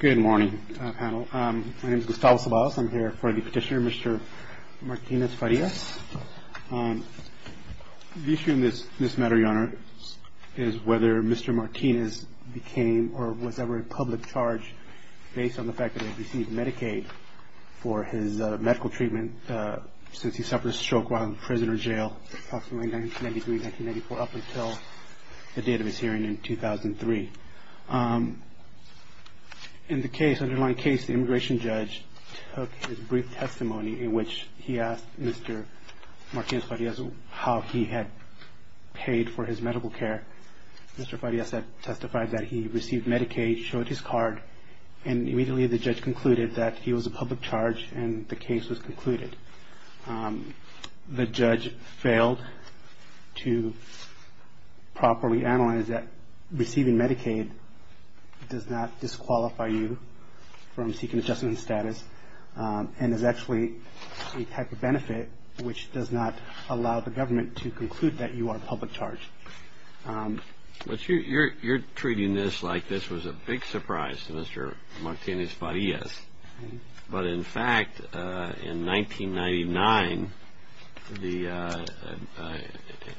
Good morning, panel. My name is Gustavo Ceballos. I'm here for the petitioner, Mr. Martinez-Farias. The issue in this matter, Your Honor, is whether Mr. Martinez became or was ever in public charge based on the fact that he had received Medicaid for his medical treatment since he suffered a stroke while in prison or jail approximately 1993-1994 up until the date of his hearing in 2003. In the underlying case, the immigration judge took his brief testimony in which he asked Mr. Martinez-Farias how he had paid for his medical care. Mr. Farias testified that he received Medicaid, showed his card, and immediately the judge concluded that he was a public charge and the case was concluded. The judge failed to properly analyze that receiving Medicaid does not disqualify you from seeking adjustment status and is actually a type of benefit which does not allow the government to conclude that you are a public charge. But you're treating this like this was a big surprise to Mr. Martinez-Farias. But in fact, in 1999, the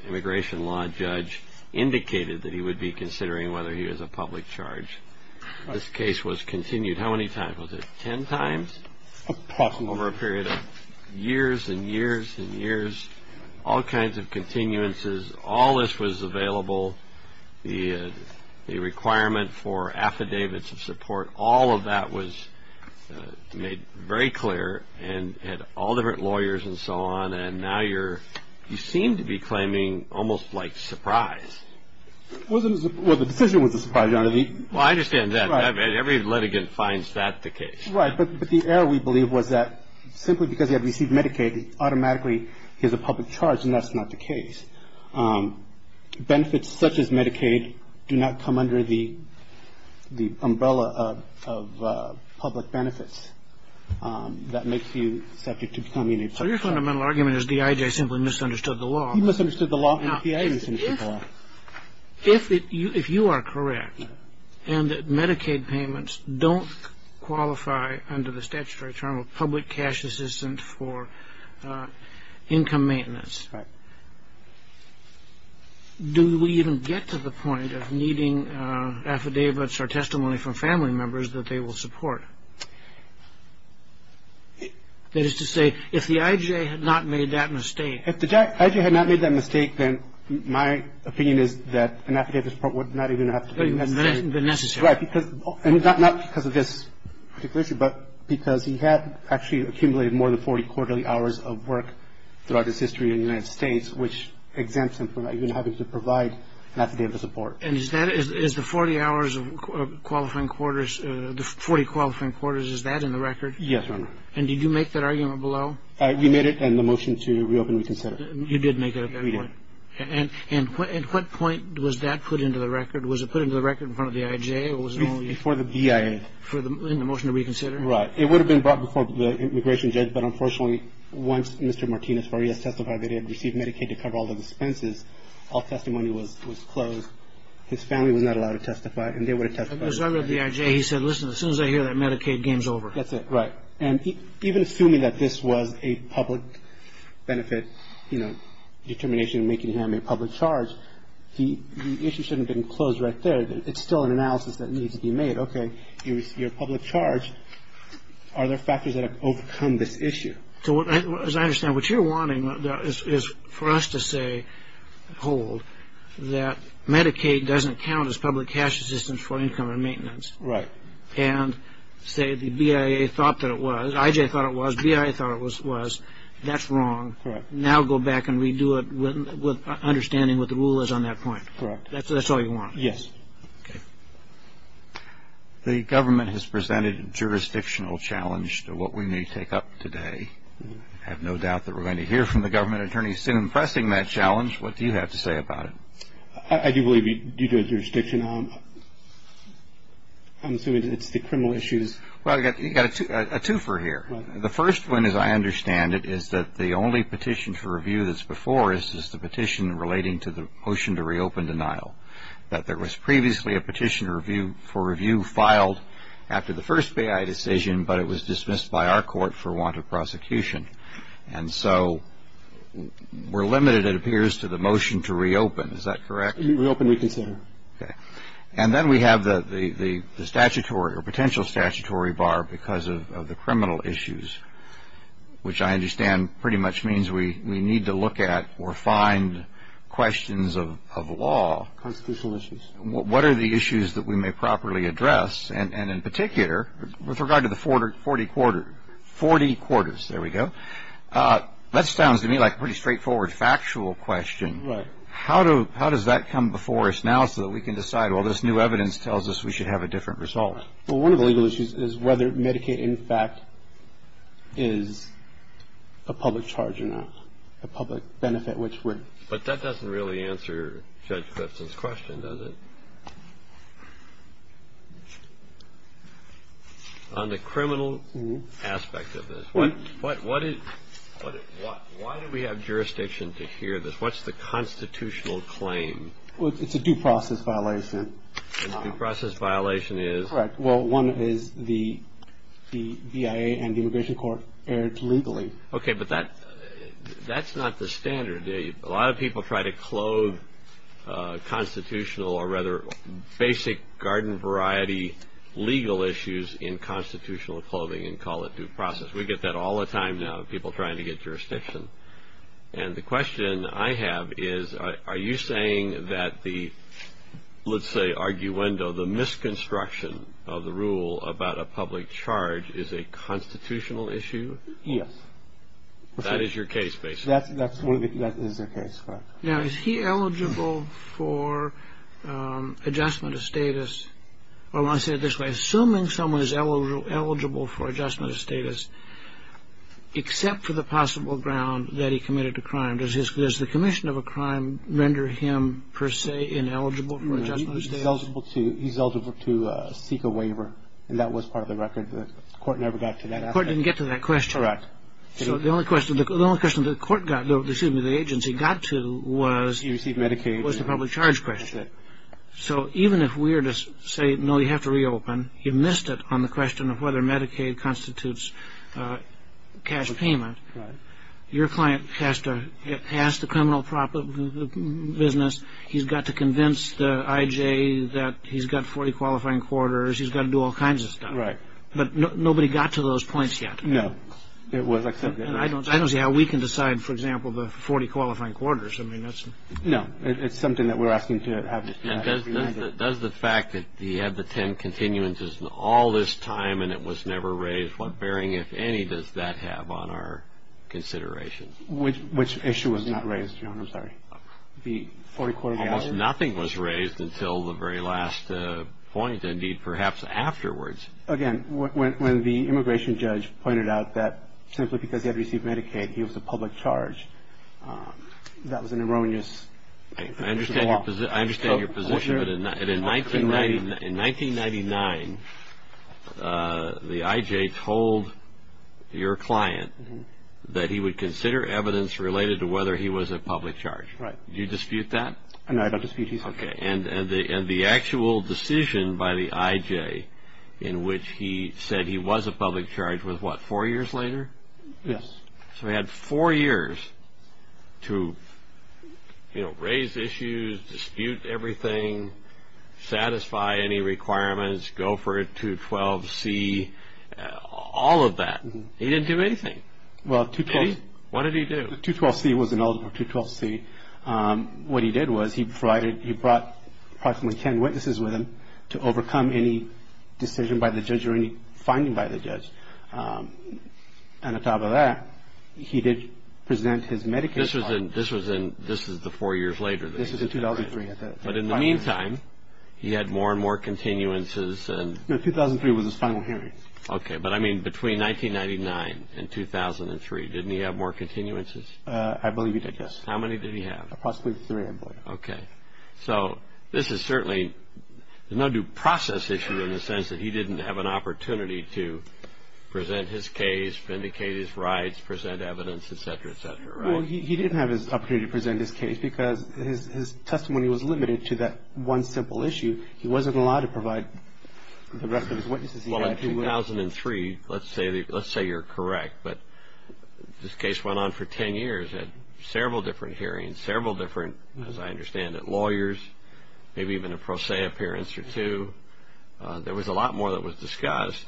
immigration law judge indicated that he would be considering whether he was a public charge. This case was continued how many times? Was it 10 times? Over a period of years and years and years, all kinds of continuances, all this was available, the requirement for affidavits of support, all of that was made very clear and had all different lawyers and so on and now you seem to be claiming almost like surprise. Well, the decision was a surprise, Your Honor. Well, I understand that. Every litigant finds that the case. Right, but the error we believe was that simply because he had received Medicaid, automatically he's a public charge and that's not the case. Benefits such as Medicaid do not come under the umbrella of public benefits. That makes you subject to becoming a public charge. So your fundamental argument is D.I.J. simply misunderstood the law. He misunderstood the law and D.I.J. misunderstood the law. If you are correct and that Medicaid payments don't qualify under the statutory term of public cash assistance for income maintenance, do we even get to the point of needing affidavits or testimony from family members that they will support? That is to say, if the I.J. had not made that mistake. If the I.J. had not made that mistake, then my opinion is that an affidavit of support would not even have to be necessary. Right, because not because of this particular issue, but because he had actually accumulated more than 40 quarterly hours of work throughout his history in the United States, which exempts him from even having to provide an affidavit of support. And is that, is the 40 hours of qualifying quarters, the 40 qualifying quarters, is that in the record? Yes, Your Honor. And did you make that argument below? We made it in the motion to reopen and reconsider. You did make it at that point. We did. And at what point was that put into the record? Was it put into the record in front of the I.J.? Before the BIA. In the motion to reconsider? Right. It would have been brought before the immigration judge. But unfortunately, once Mr. Martinez-Farias testified that he had received Medicaid to cover all the expenses, all testimony was closed. His family was not allowed to testify, and they would have testified. As far as the I.J., he said, listen, as soon as I hear that Medicaid, game's over. That's it, right. And even assuming that this was a public benefit, you know, determination making him a public charge, the issue shouldn't have been closed right there. It's still an analysis that needs to be made. Okay, you're a public charge. Are there factors that have overcome this issue? As I understand, what you're wanting is for us to say, hold, that Medicaid doesn't count as public cash assistance for income and maintenance. Right. And say the BIA thought that it was. I.J. thought it was. BIA thought it was. That's wrong. Now go back and redo it with understanding what the rule is on that point. Correct. That's all you want? Yes. Okay. The government has presented a jurisdictional challenge to what we may take up today. I have no doubt that we're going to hear from the government attorneys soon pressing that challenge. What do you have to say about it? I do believe due to a jurisdiction, I'm assuming it's the criminal issues. Well, you've got a twofer here. The first one, as I understand it, is that the only petition for review that's before us is the petition relating to the motion to reopen denial, that there was previously a petition for review filed after the first BIA decision, but it was dismissed by our court for want of prosecution. And so we're limited, it appears, to the motion to reopen. Is that correct? Reopen reconsider. Okay. And then we have the statutory or potential statutory bar because of the criminal issues, which I understand pretty much means we need to look at or find questions of law. Constitutional issues. What are the issues that we may properly address? And in particular, with regard to the 40 quarters, there we go, that sounds to me like a pretty straightforward factual question. Right. How does that come before us now so that we can decide, well, this new evidence tells us we should have a different result? Well, one of the legal issues is whether Medicaid, in fact, is a public charge or not, a public benefit which we're. But that doesn't really answer Judge Gibson's question, does it? On the criminal aspect of this, why do we have jurisdiction to hear this? What's the constitutional claim? Well, it's a due process violation. Due process violation is? Correct. Well, one is the BIA and the immigration court erred legally. Okay. But that's not the standard. A lot of people try to clothe constitutional or rather basic garden variety legal issues in constitutional clothing and call it due process. We get that all the time now, people trying to get jurisdiction. And the question I have is, are you saying that the, let's say, arguendo, the misconstruction of the rule about a public charge is a constitutional issue? Yes. That is your case, basically. That is the case. Now, is he eligible for adjustment of status? I want to say it this way. Assuming someone is eligible for adjustment of status, except for the possible ground that he committed a crime, does the commission of a crime render him, per se, ineligible for adjustment of status? He's eligible to seek a waiver, and that was part of the record. The court never got to that aspect. The court didn't get to that question. Correct. So the only question the court got, excuse me, the agency got to was? He received Medicaid. Was the public charge question. So even if we were to say, no, you have to reopen, you missed it on the question of whether Medicaid constitutes cash payment. Your client has to ask the criminal business, he's got to convince the IJ that he's got 40 qualifying quarters, he's got to do all kinds of stuff. But nobody got to those points yet. No. I don't see how we can decide, for example, the 40 qualifying quarters. No, it's something that we're asking to have. And does the fact that he had the 10 continuances all this time and it was never raised, what bearing, if any, does that have on our consideration? Which issue was not raised, Your Honor? I'm sorry. The 40 qualifying quarters? Almost nothing was raised until the very last point, indeed, perhaps afterwards. Again, when the immigration judge pointed out that simply because he had received Medicaid, he was a public charge, that was an erroneous position to offer. I understand your position, but in 1999, the IJ told your client that he would consider evidence related to whether he was a public charge. Right. Do you dispute that? No, I don't dispute either. Okay. And the actual decision by the IJ in which he said he was a public charge was what, four years later? Yes. So he had four years to, you know, raise issues, dispute everything, satisfy any requirements, go for a 212C, all of that. He didn't do anything. What did he do? The 212C was an eligible 212C. What he did was he provided, he brought approximately 10 witnesses with him to overcome any decision by the judge or any finding by the judge. And on top of that, he did present his Medicaid card. This was in, this is the four years later. This was in 2003. But in the meantime, he had more and more continuances. No, 2003 was his final hearing. Okay, but I mean between 1999 and 2003, didn't he have more continuances? I believe he did, yes. How many did he have? Approximately three and four. Okay. So this is certainly no due process issue in the sense that he didn't have an opportunity to present his case, vindicate his rights, present evidence, et cetera, et cetera, right? Well, he didn't have his opportunity to present his case because his testimony was limited to that one simple issue. He wasn't allowed to provide the rest of his witnesses. Well, in 2003, let's say you're correct, but this case went on for 10 years, had several different hearings, several different, as I understand it, lawyers, maybe even a pro se appearance or two. There was a lot more that was discussed.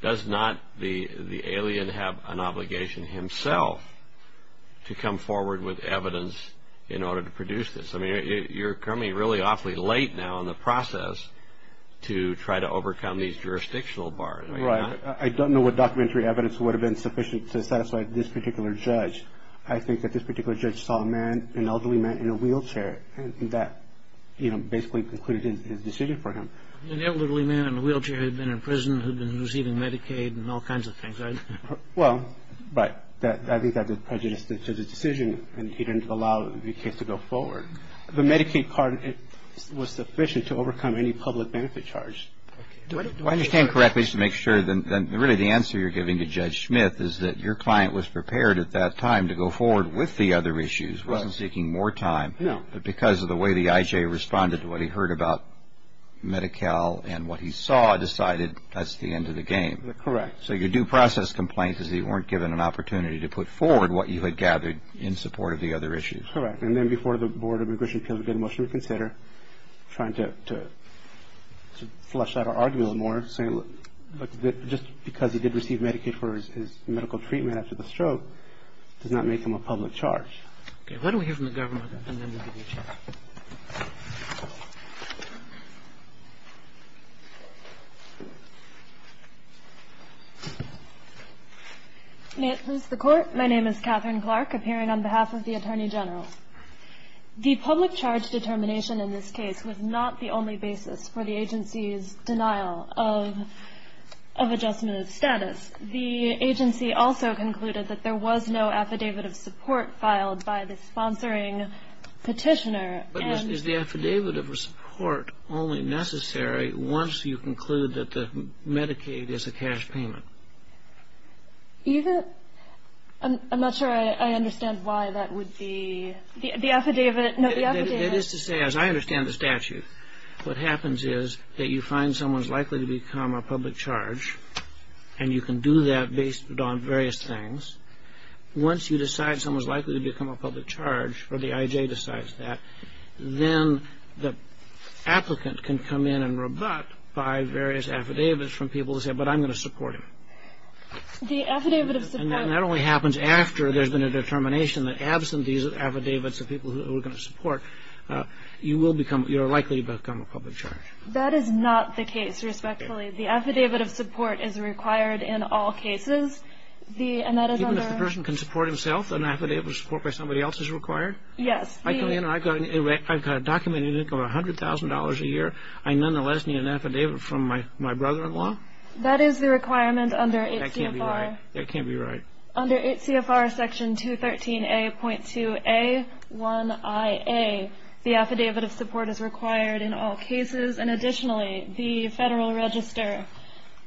Does not the alien have an obligation himself to come forward with evidence in order to produce this? I mean, you're coming really awfully late now in the process to try to overcome these jurisdictional bars. Right. I don't know what documentary evidence would have been sufficient to satisfy this particular judge. I think that this particular judge saw a man, an elderly man in a wheelchair and that, you know, basically concluded his decision for him. An elderly man in a wheelchair had been in prison, had been receiving Medicaid and all kinds of things, right? Well, but I think that was prejudiced to the decision and he didn't allow the case to go forward. The Medicaid part was sufficient to overcome any public benefit charge. I understand correctly to make sure that really the answer you're giving to Judge Smith is that your client was prepared at that time to go forward with the other issues, wasn't seeking more time. No. But because of the way the IJ responded to what he heard about Medi-Cal and what he saw, decided that's the end of the game. Correct. So your due process complaint is that you weren't given an opportunity to put forward what you had gathered in support of the other issues. Correct. And then before the Board of Immigration Appeals, we did a motion to consider trying to flush out our argument a little more, saying look, just because he did receive Medicaid for his medical treatment after the stroke does not make him a public charge. Okay. Why don't we hear from the government and then we'll give you a chance. May it please the Court. My name is Catherine Clark, appearing on behalf of the Attorney General. The public charge determination in this case was not the only basis for the agency's denial of adjustment of status. The agency also concluded that there was no affidavit of support filed by the sponsoring petitioner. But is the affidavit of support only necessary once you conclude that the Medicaid is a cash payment? I'm not sure I understand why that would be the affidavit. It is to say, as I understand the statute, what happens is that you find someone's likely to become a public charge and you can do that based on various things. Once you decide someone's likely to become a public charge, or the IJ decides that, then the applicant can come in and rebut by various affidavits from people who say, but I'm going to support him. The affidavit of support. And that only happens after there's been a determination that absent these affidavits of people who are going to support, you are likely to become a public charge. That is not the case, respectfully. The affidavit of support is required in all cases. Even if the person can support himself, an affidavit of support by somebody else is required? Yes. I've got a documented income of $100,000 a year. I nonetheless need an affidavit from my brother-in-law? That is the requirement under HCFR. That can't be right. Under HCFR Section 213A.2A1IA, the affidavit of support is required in all cases. And additionally, the Federal Register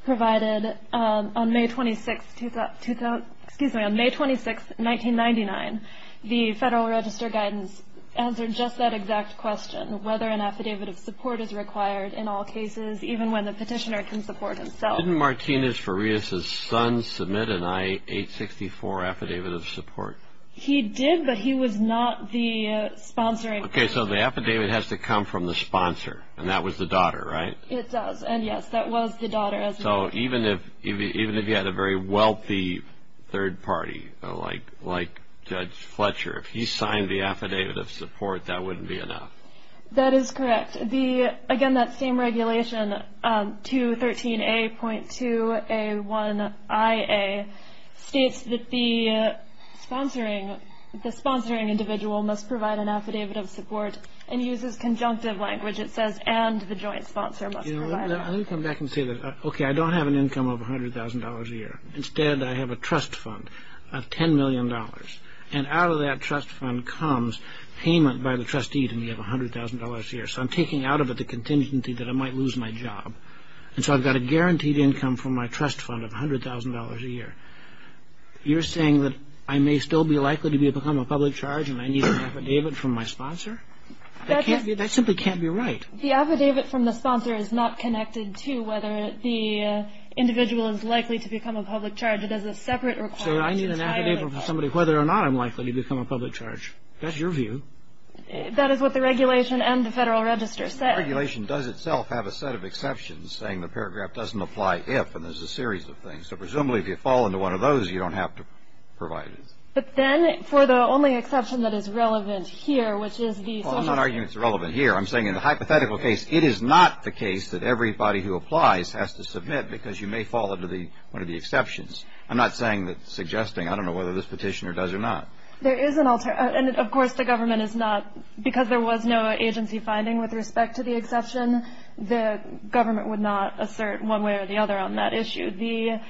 provided on May 26, 1999, the Federal Register guidance answered just that exact question, whether an affidavit of support is required in all cases, even when the petitioner can support himself. Didn't Martinez-Farias' son submit an I-864 affidavit of support? He did, but he was not the sponsoring person. Okay, so the affidavit has to come from the sponsor, and that was the daughter, right? It does, and yes, that was the daughter. So even if you had a very wealthy third party, like Judge Fletcher, if he signed the affidavit of support, that wouldn't be enough? That is correct. And again, that same regulation, 213A.2A1IA, states that the sponsoring individual must provide an affidavit of support and uses conjunctive language. It says, and the joint sponsor must provide it. Let me come back and say this. Okay, I don't have an income of $100,000 a year. Instead, I have a trust fund of $10 million, and out of that trust fund comes payment by the trustee to me of $100,000 a year. So I'm taking out of it the contingency that I might lose my job. And so I've got a guaranteed income from my trust fund of $100,000 a year. You're saying that I may still be likely to become a public charge and I need an affidavit from my sponsor? That simply can't be right. The affidavit from the sponsor is not connected to whether the individual is likely to become a public charge. It has a separate requirement. So I need an affidavit from somebody whether or not I'm likely to become a public charge. That's your view. That is what the regulation and the Federal Register say. The regulation does itself have a set of exceptions saying the paragraph doesn't apply if, and there's a series of things. So presumably if you fall into one of those, you don't have to provide it. But then, for the only exception that is relevant here, which is the Social Security. Well, I'm not arguing it's relevant here. I'm saying in the hypothetical case, it is not the case that everybody who applies has to submit because you may fall into one of the exceptions. I'm not saying that, suggesting. I don't know whether this petitioner does or not. There is an alternative. And, of course, the government is not, because there was no agency finding with respect to the exception, the government would not assert one way or the other on that issue. The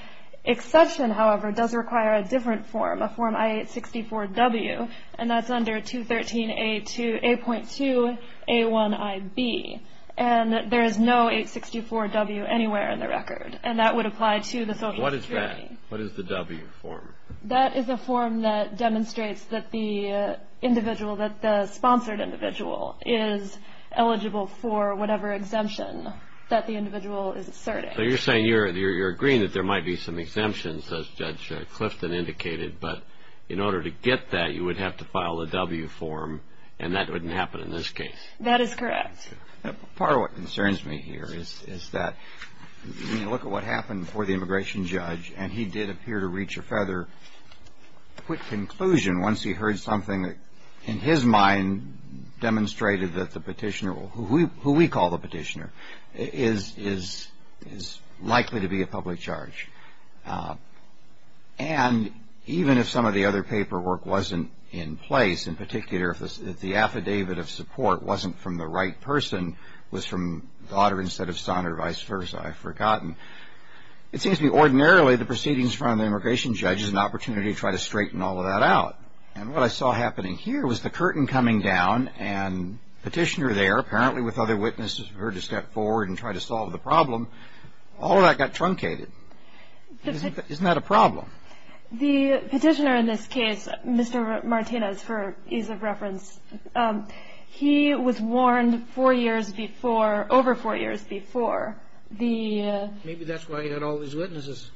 exception, however, does require a different form, a form I-864-W, and that's under 213A.2A1IB. And there is no 864-W anywhere in the record. And that would apply to the Social Security. What is that? What is the W form? That is a form that demonstrates that the individual, that the sponsored individual, is eligible for whatever exemption that the individual is asserting. So you're saying you're agreeing that there might be some exemptions, as Judge Clifton indicated, but in order to get that, you would have to file a W form, and that wouldn't happen in this case. That is correct. Part of what concerns me here is that when you look at what happened before the immigration judge, and he did appear to reach a further quick conclusion once he heard something that, in his mind, demonstrated that the petitioner, who we call the petitioner, is likely to be a public charge. And even if some of the other paperwork wasn't in place, in particular, if the affidavit of support wasn't from the right person, was from Goddard instead of Sonner, vice versa, I've forgotten. It seems to me ordinarily the proceedings from the immigration judge is an opportunity to try to straighten all of that out. And what I saw happening here was the curtain coming down and petitioner there, apparently with other witnesses who were to step forward and try to solve the problem, all of that got truncated. Isn't that a problem? The petitioner in this case, Mr. Martinez, for ease of reference, he was warned four years before, over four years before, Maybe that's why he had all these witnesses.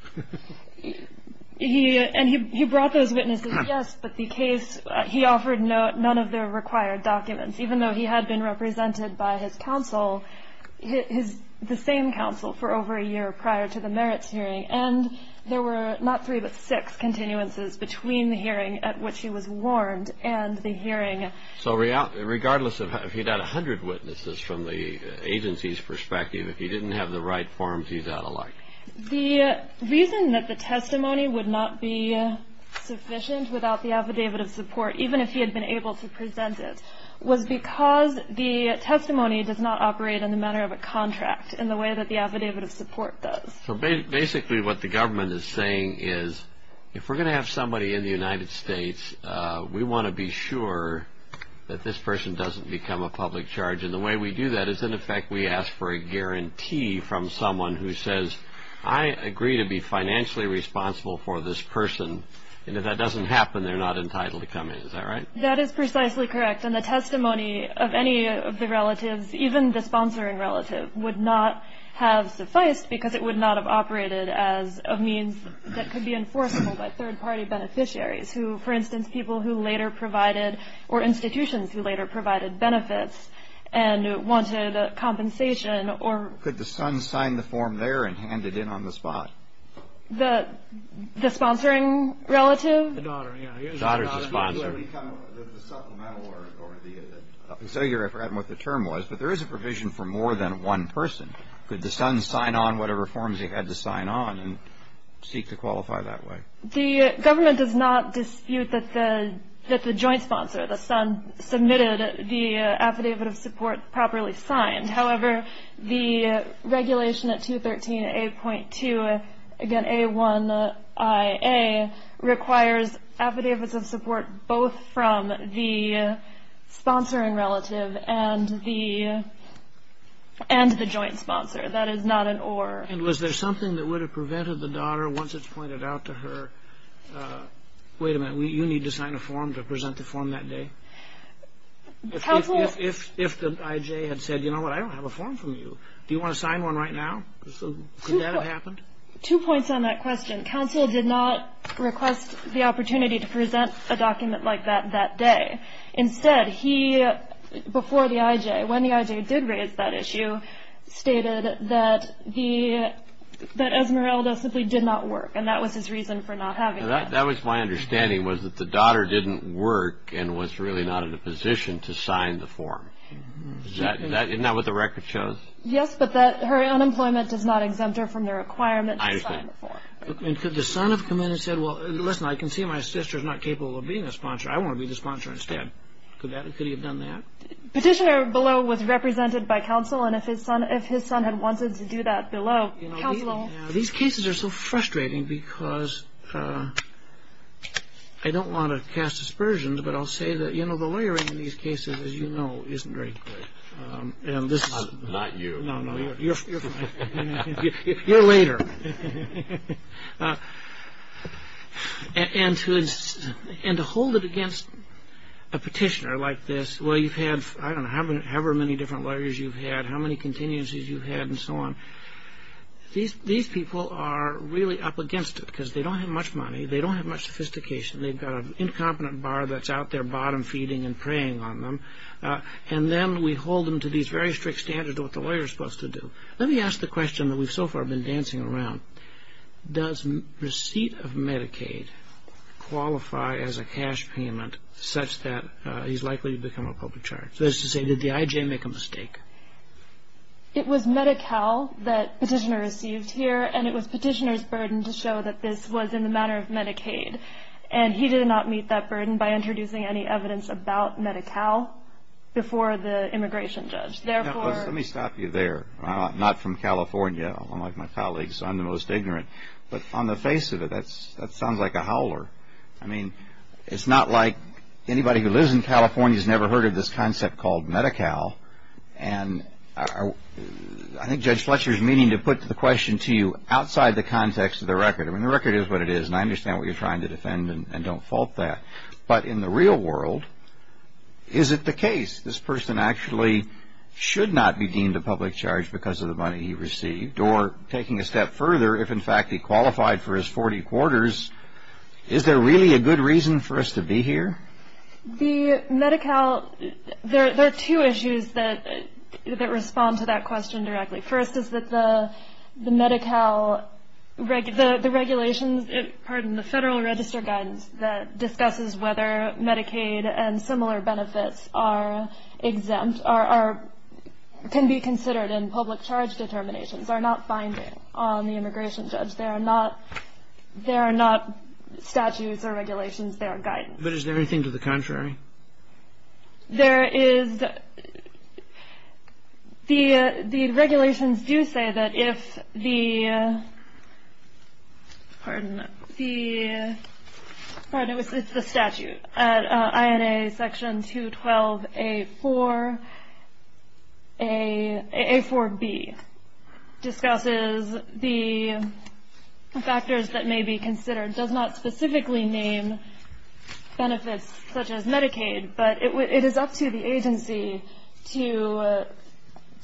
And he brought those witnesses, yes, but the case, he offered none of the required documents, even though he had been represented by his counsel, the same counsel for over a year prior to the merits hearing. And there were not three but six continuances between the hearing at which he was warned and the hearing. So regardless, if he got 100 witnesses from the agency's perspective, if he didn't have the right forms, he's out of luck. The reason that the testimony would not be sufficient without the affidavit of support, even if he had been able to present it, was because the testimony does not operate in the manner of a contract, in the way that the affidavit of support does. So basically what the government is saying is, if we're going to have somebody in the United States, we want to be sure that this person doesn't become a public charge. And the way we do that is, in effect, we ask for a guarantee from someone who says, I agree to be financially responsible for this person. And if that doesn't happen, they're not entitled to come in. Is that right? That is precisely correct. And the testimony of any of the relatives, even the sponsoring relative, would not have sufficed because it would not have operated as a means that could be enforceable by third-party beneficiaries, who, for instance, people who later provided or institutions who later provided benefits and wanted compensation. Could the son sign the form there and hand it in on the spot? The sponsoring relative? The daughter, yeah. His daughter's the sponsor. The supplemental or the, I forget what the term was, but there is a provision for more than one person. Could the son sign on whatever forms he had to sign on and seek to qualify that way? The government does not dispute that the joint sponsor, the son, submitted the affidavit of support properly signed. However, the regulation at 213A.2, again, A1IA, requires affidavits of support both from the sponsoring relative and the joint sponsor. That is not an or. And was there something that would have prevented the daughter, once it's pointed out to her, wait a minute, you need to sign a form to present the form that day? If the IJ had said, you know what, I don't have a form from you, do you want to sign one right now? Could that have happened? Two points on that question. Counsel did not request the opportunity to present a document like that that day. Instead, he, before the IJ, when the IJ did raise that issue, stated that Esmeralda simply did not work, and that was his reason for not having it. That was my understanding, was that the daughter didn't work and was really not in a position to sign the form. Isn't that what the record shows? Yes, but her unemployment does not exempt her from the requirement to sign the form. I understand. And could the son have come in and said, well, listen, I can see my sister's not capable of being a sponsor. I want to be the sponsor instead. Could he have done that? Petitioner below was represented by counsel, and if his son had wanted to do that below, counsel. These cases are so frustrating because I don't want to cast aspersions, but I'll say that, you know, the lawyering in these cases, as you know, isn't very good. Not you. No, no, you're fine. You're later. And to hold it against a petitioner like this, well, you've had, I don't know, however many different lawyers you've had, how many continuances you've had and so on. These people are really up against it because they don't have much money. They don't have much sophistication. They've got an incompetent bar that's out there bottom feeding and preying on them. And then we hold them to these very strict standards of what the lawyer is supposed to do. Let me ask the question that we've so far been dancing around. Does receipt of Medicaid qualify as a cash payment such that he's likely to become a public charge? That is to say, did the I.J. make a mistake? It was Medi-Cal that petitioner received here, and it was petitioner's burden to show that this was in the manner of Medicaid. And he did not meet that burden by introducing any evidence about Medi-Cal before the immigration judge. Let me stop you there. I'm not from California, unlike my colleagues. I'm the most ignorant. But on the face of it, that sounds like a howler. I mean, it's not like anybody who lives in California has never heard of this concept called Medi-Cal. And I think Judge Fletcher is meaning to put the question to you outside the context of the record. I mean, the record is what it is, and I understand what you're trying to defend, and don't fault that. But in the real world, is it the case this person actually should not be deemed a public charge because of the money he received? Or, taking a step further, if in fact he qualified for his 40 quarters, is there really a good reason for us to be here? The Medi-Cal, there are two issues that respond to that question directly. First is that the Medi-Cal, the regulations, pardon me, the Federal Register guidance that discusses whether Medicaid and similar benefits are exempt, can be considered in public charge determinations, are not binding on the immigration judge. They are not statutes or regulations. They are guidance. There is, the regulations do say that if the, pardon me, if the statute, INA section 212A4B discusses the factors that may be considered, does not specifically name benefits such as Medicaid, but it is up to the agency to,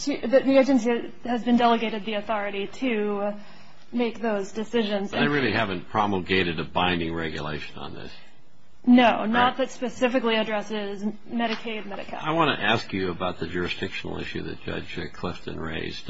that the agency has been delegated the authority to make those decisions. I really haven't promulgated a binding regulation on this. No, not that specifically addresses Medicaid, Medi-Cal. I want to ask you about the jurisdictional issue that Judge Clifton raised.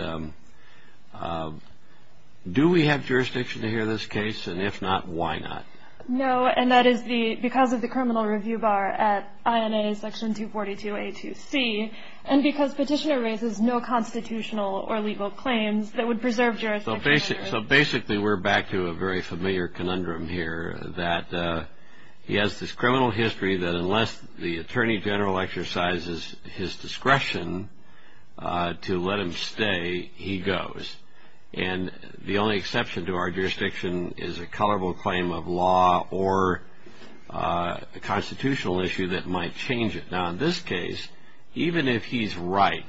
Do we have jurisdiction to hear this case, and if not, why not? No, and that is because of the criminal review bar at INA section 242A2C, and because Petitioner raises no constitutional or legal claims that would preserve jurisdiction. So basically we're back to a very familiar conundrum here, that he has this criminal history that unless the Attorney General exercises his discretion to let him stay, he goes, and the only exception to our jurisdiction is a colorable claim of law or a constitutional issue that might change it. Now in this case, even if he's right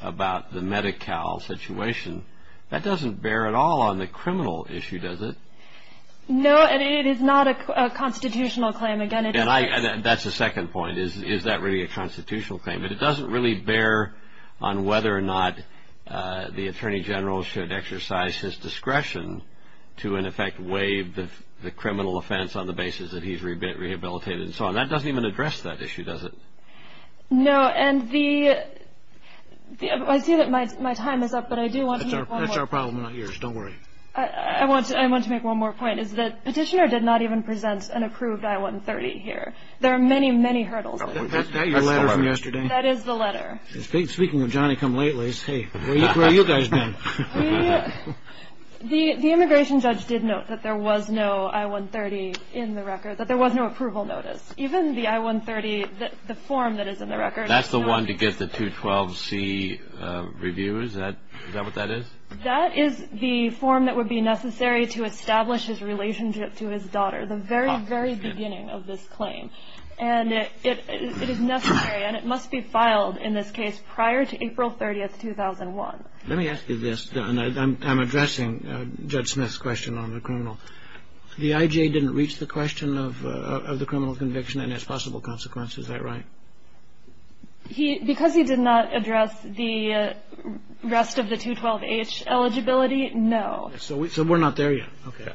about the Medi-Cal situation, that doesn't bear at all on the criminal issue, does it? No, and it is not a constitutional claim. That's the second point, is that really a constitutional claim? But it doesn't really bear on whether or not the Attorney General should exercise his discretion to in effect waive the criminal offense on the basis that he's rehabilitated and so on. That doesn't even address that issue, does it? No, and I see that my time is up, but I do want to make one more point. That's our problem, not yours. Don't worry. I want to make one more point, is that Petitioner did not even present an approved I-130 here. There are many, many hurdles. Is that your letter from yesterday? That is the letter. Speaking of Johnny-come-lately's, where have you guys been? The immigration judge did note that there was no I-130 in the record, that there was no approval notice. Even the I-130, the form that is in the record. That's the one to get the 212C review, is that what that is? That is the form that would be necessary to establish his relationship to his daughter, the very, very beginning of this claim. And it is necessary, and it must be filed in this case prior to April 30, 2001. Let me ask you this, and I'm addressing Judge Smith's question on the criminal. The IJ didn't reach the question of the criminal conviction and its possible consequences, is that right? Because he did not address the rest of the 212H eligibility, no. So we're not there yet. Okay.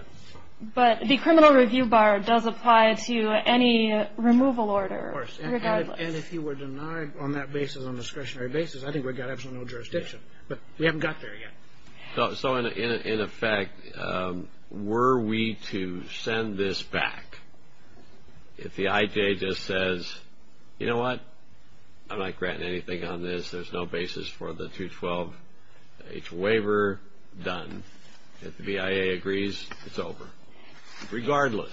But the criminal review bar does apply to any removal order, regardless. And if you were denied on that basis, on a discretionary basis, I think we've got absolutely no jurisdiction. But we haven't got there yet. So, in effect, were we to send this back, if the IJ just says, you know what, I'm not granting anything on this, there's no basis for the 212H waiver, done. If the BIA agrees, it's over. Regardless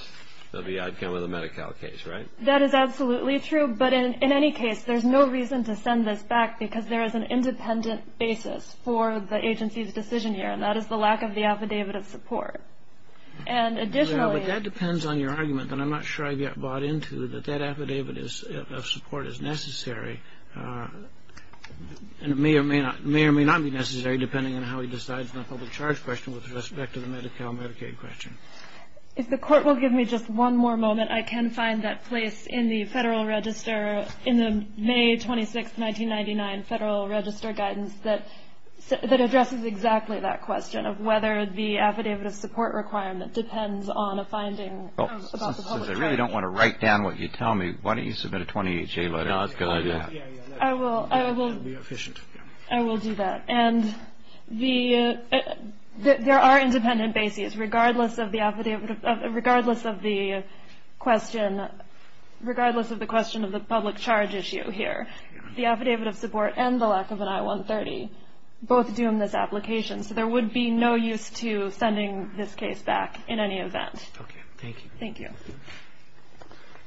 of the outcome of the Medi-Cal case, right? That is absolutely true. But in any case, there's no reason to send this back, because there is an independent basis for the agency's decision here, and that is the lack of the affidavit of support. And additionally ---- Yeah, but that depends on your argument. And I'm not sure I've yet bought into that that affidavit of support is necessary. And it may or may not be necessary, depending on how he decides on the public charge question with respect to the Medi-Cal Medicaid question. If the Court will give me just one more moment, I can find that place in the Federal Register, in the May 26th, 1999 Federal Register Guidance, that addresses exactly that question of whether the affidavit of support requirement depends on a finding about the public charge. Well, since I really don't want to write down what you tell me, why don't you submit a 28-J letter? I will. I will do that. And there are independent bases, regardless of the question of the public charge issue here. The affidavit of support and the lack of an I-130 both doom this application, so there would be no use to sending this case back in any event. Thank you. Thank you.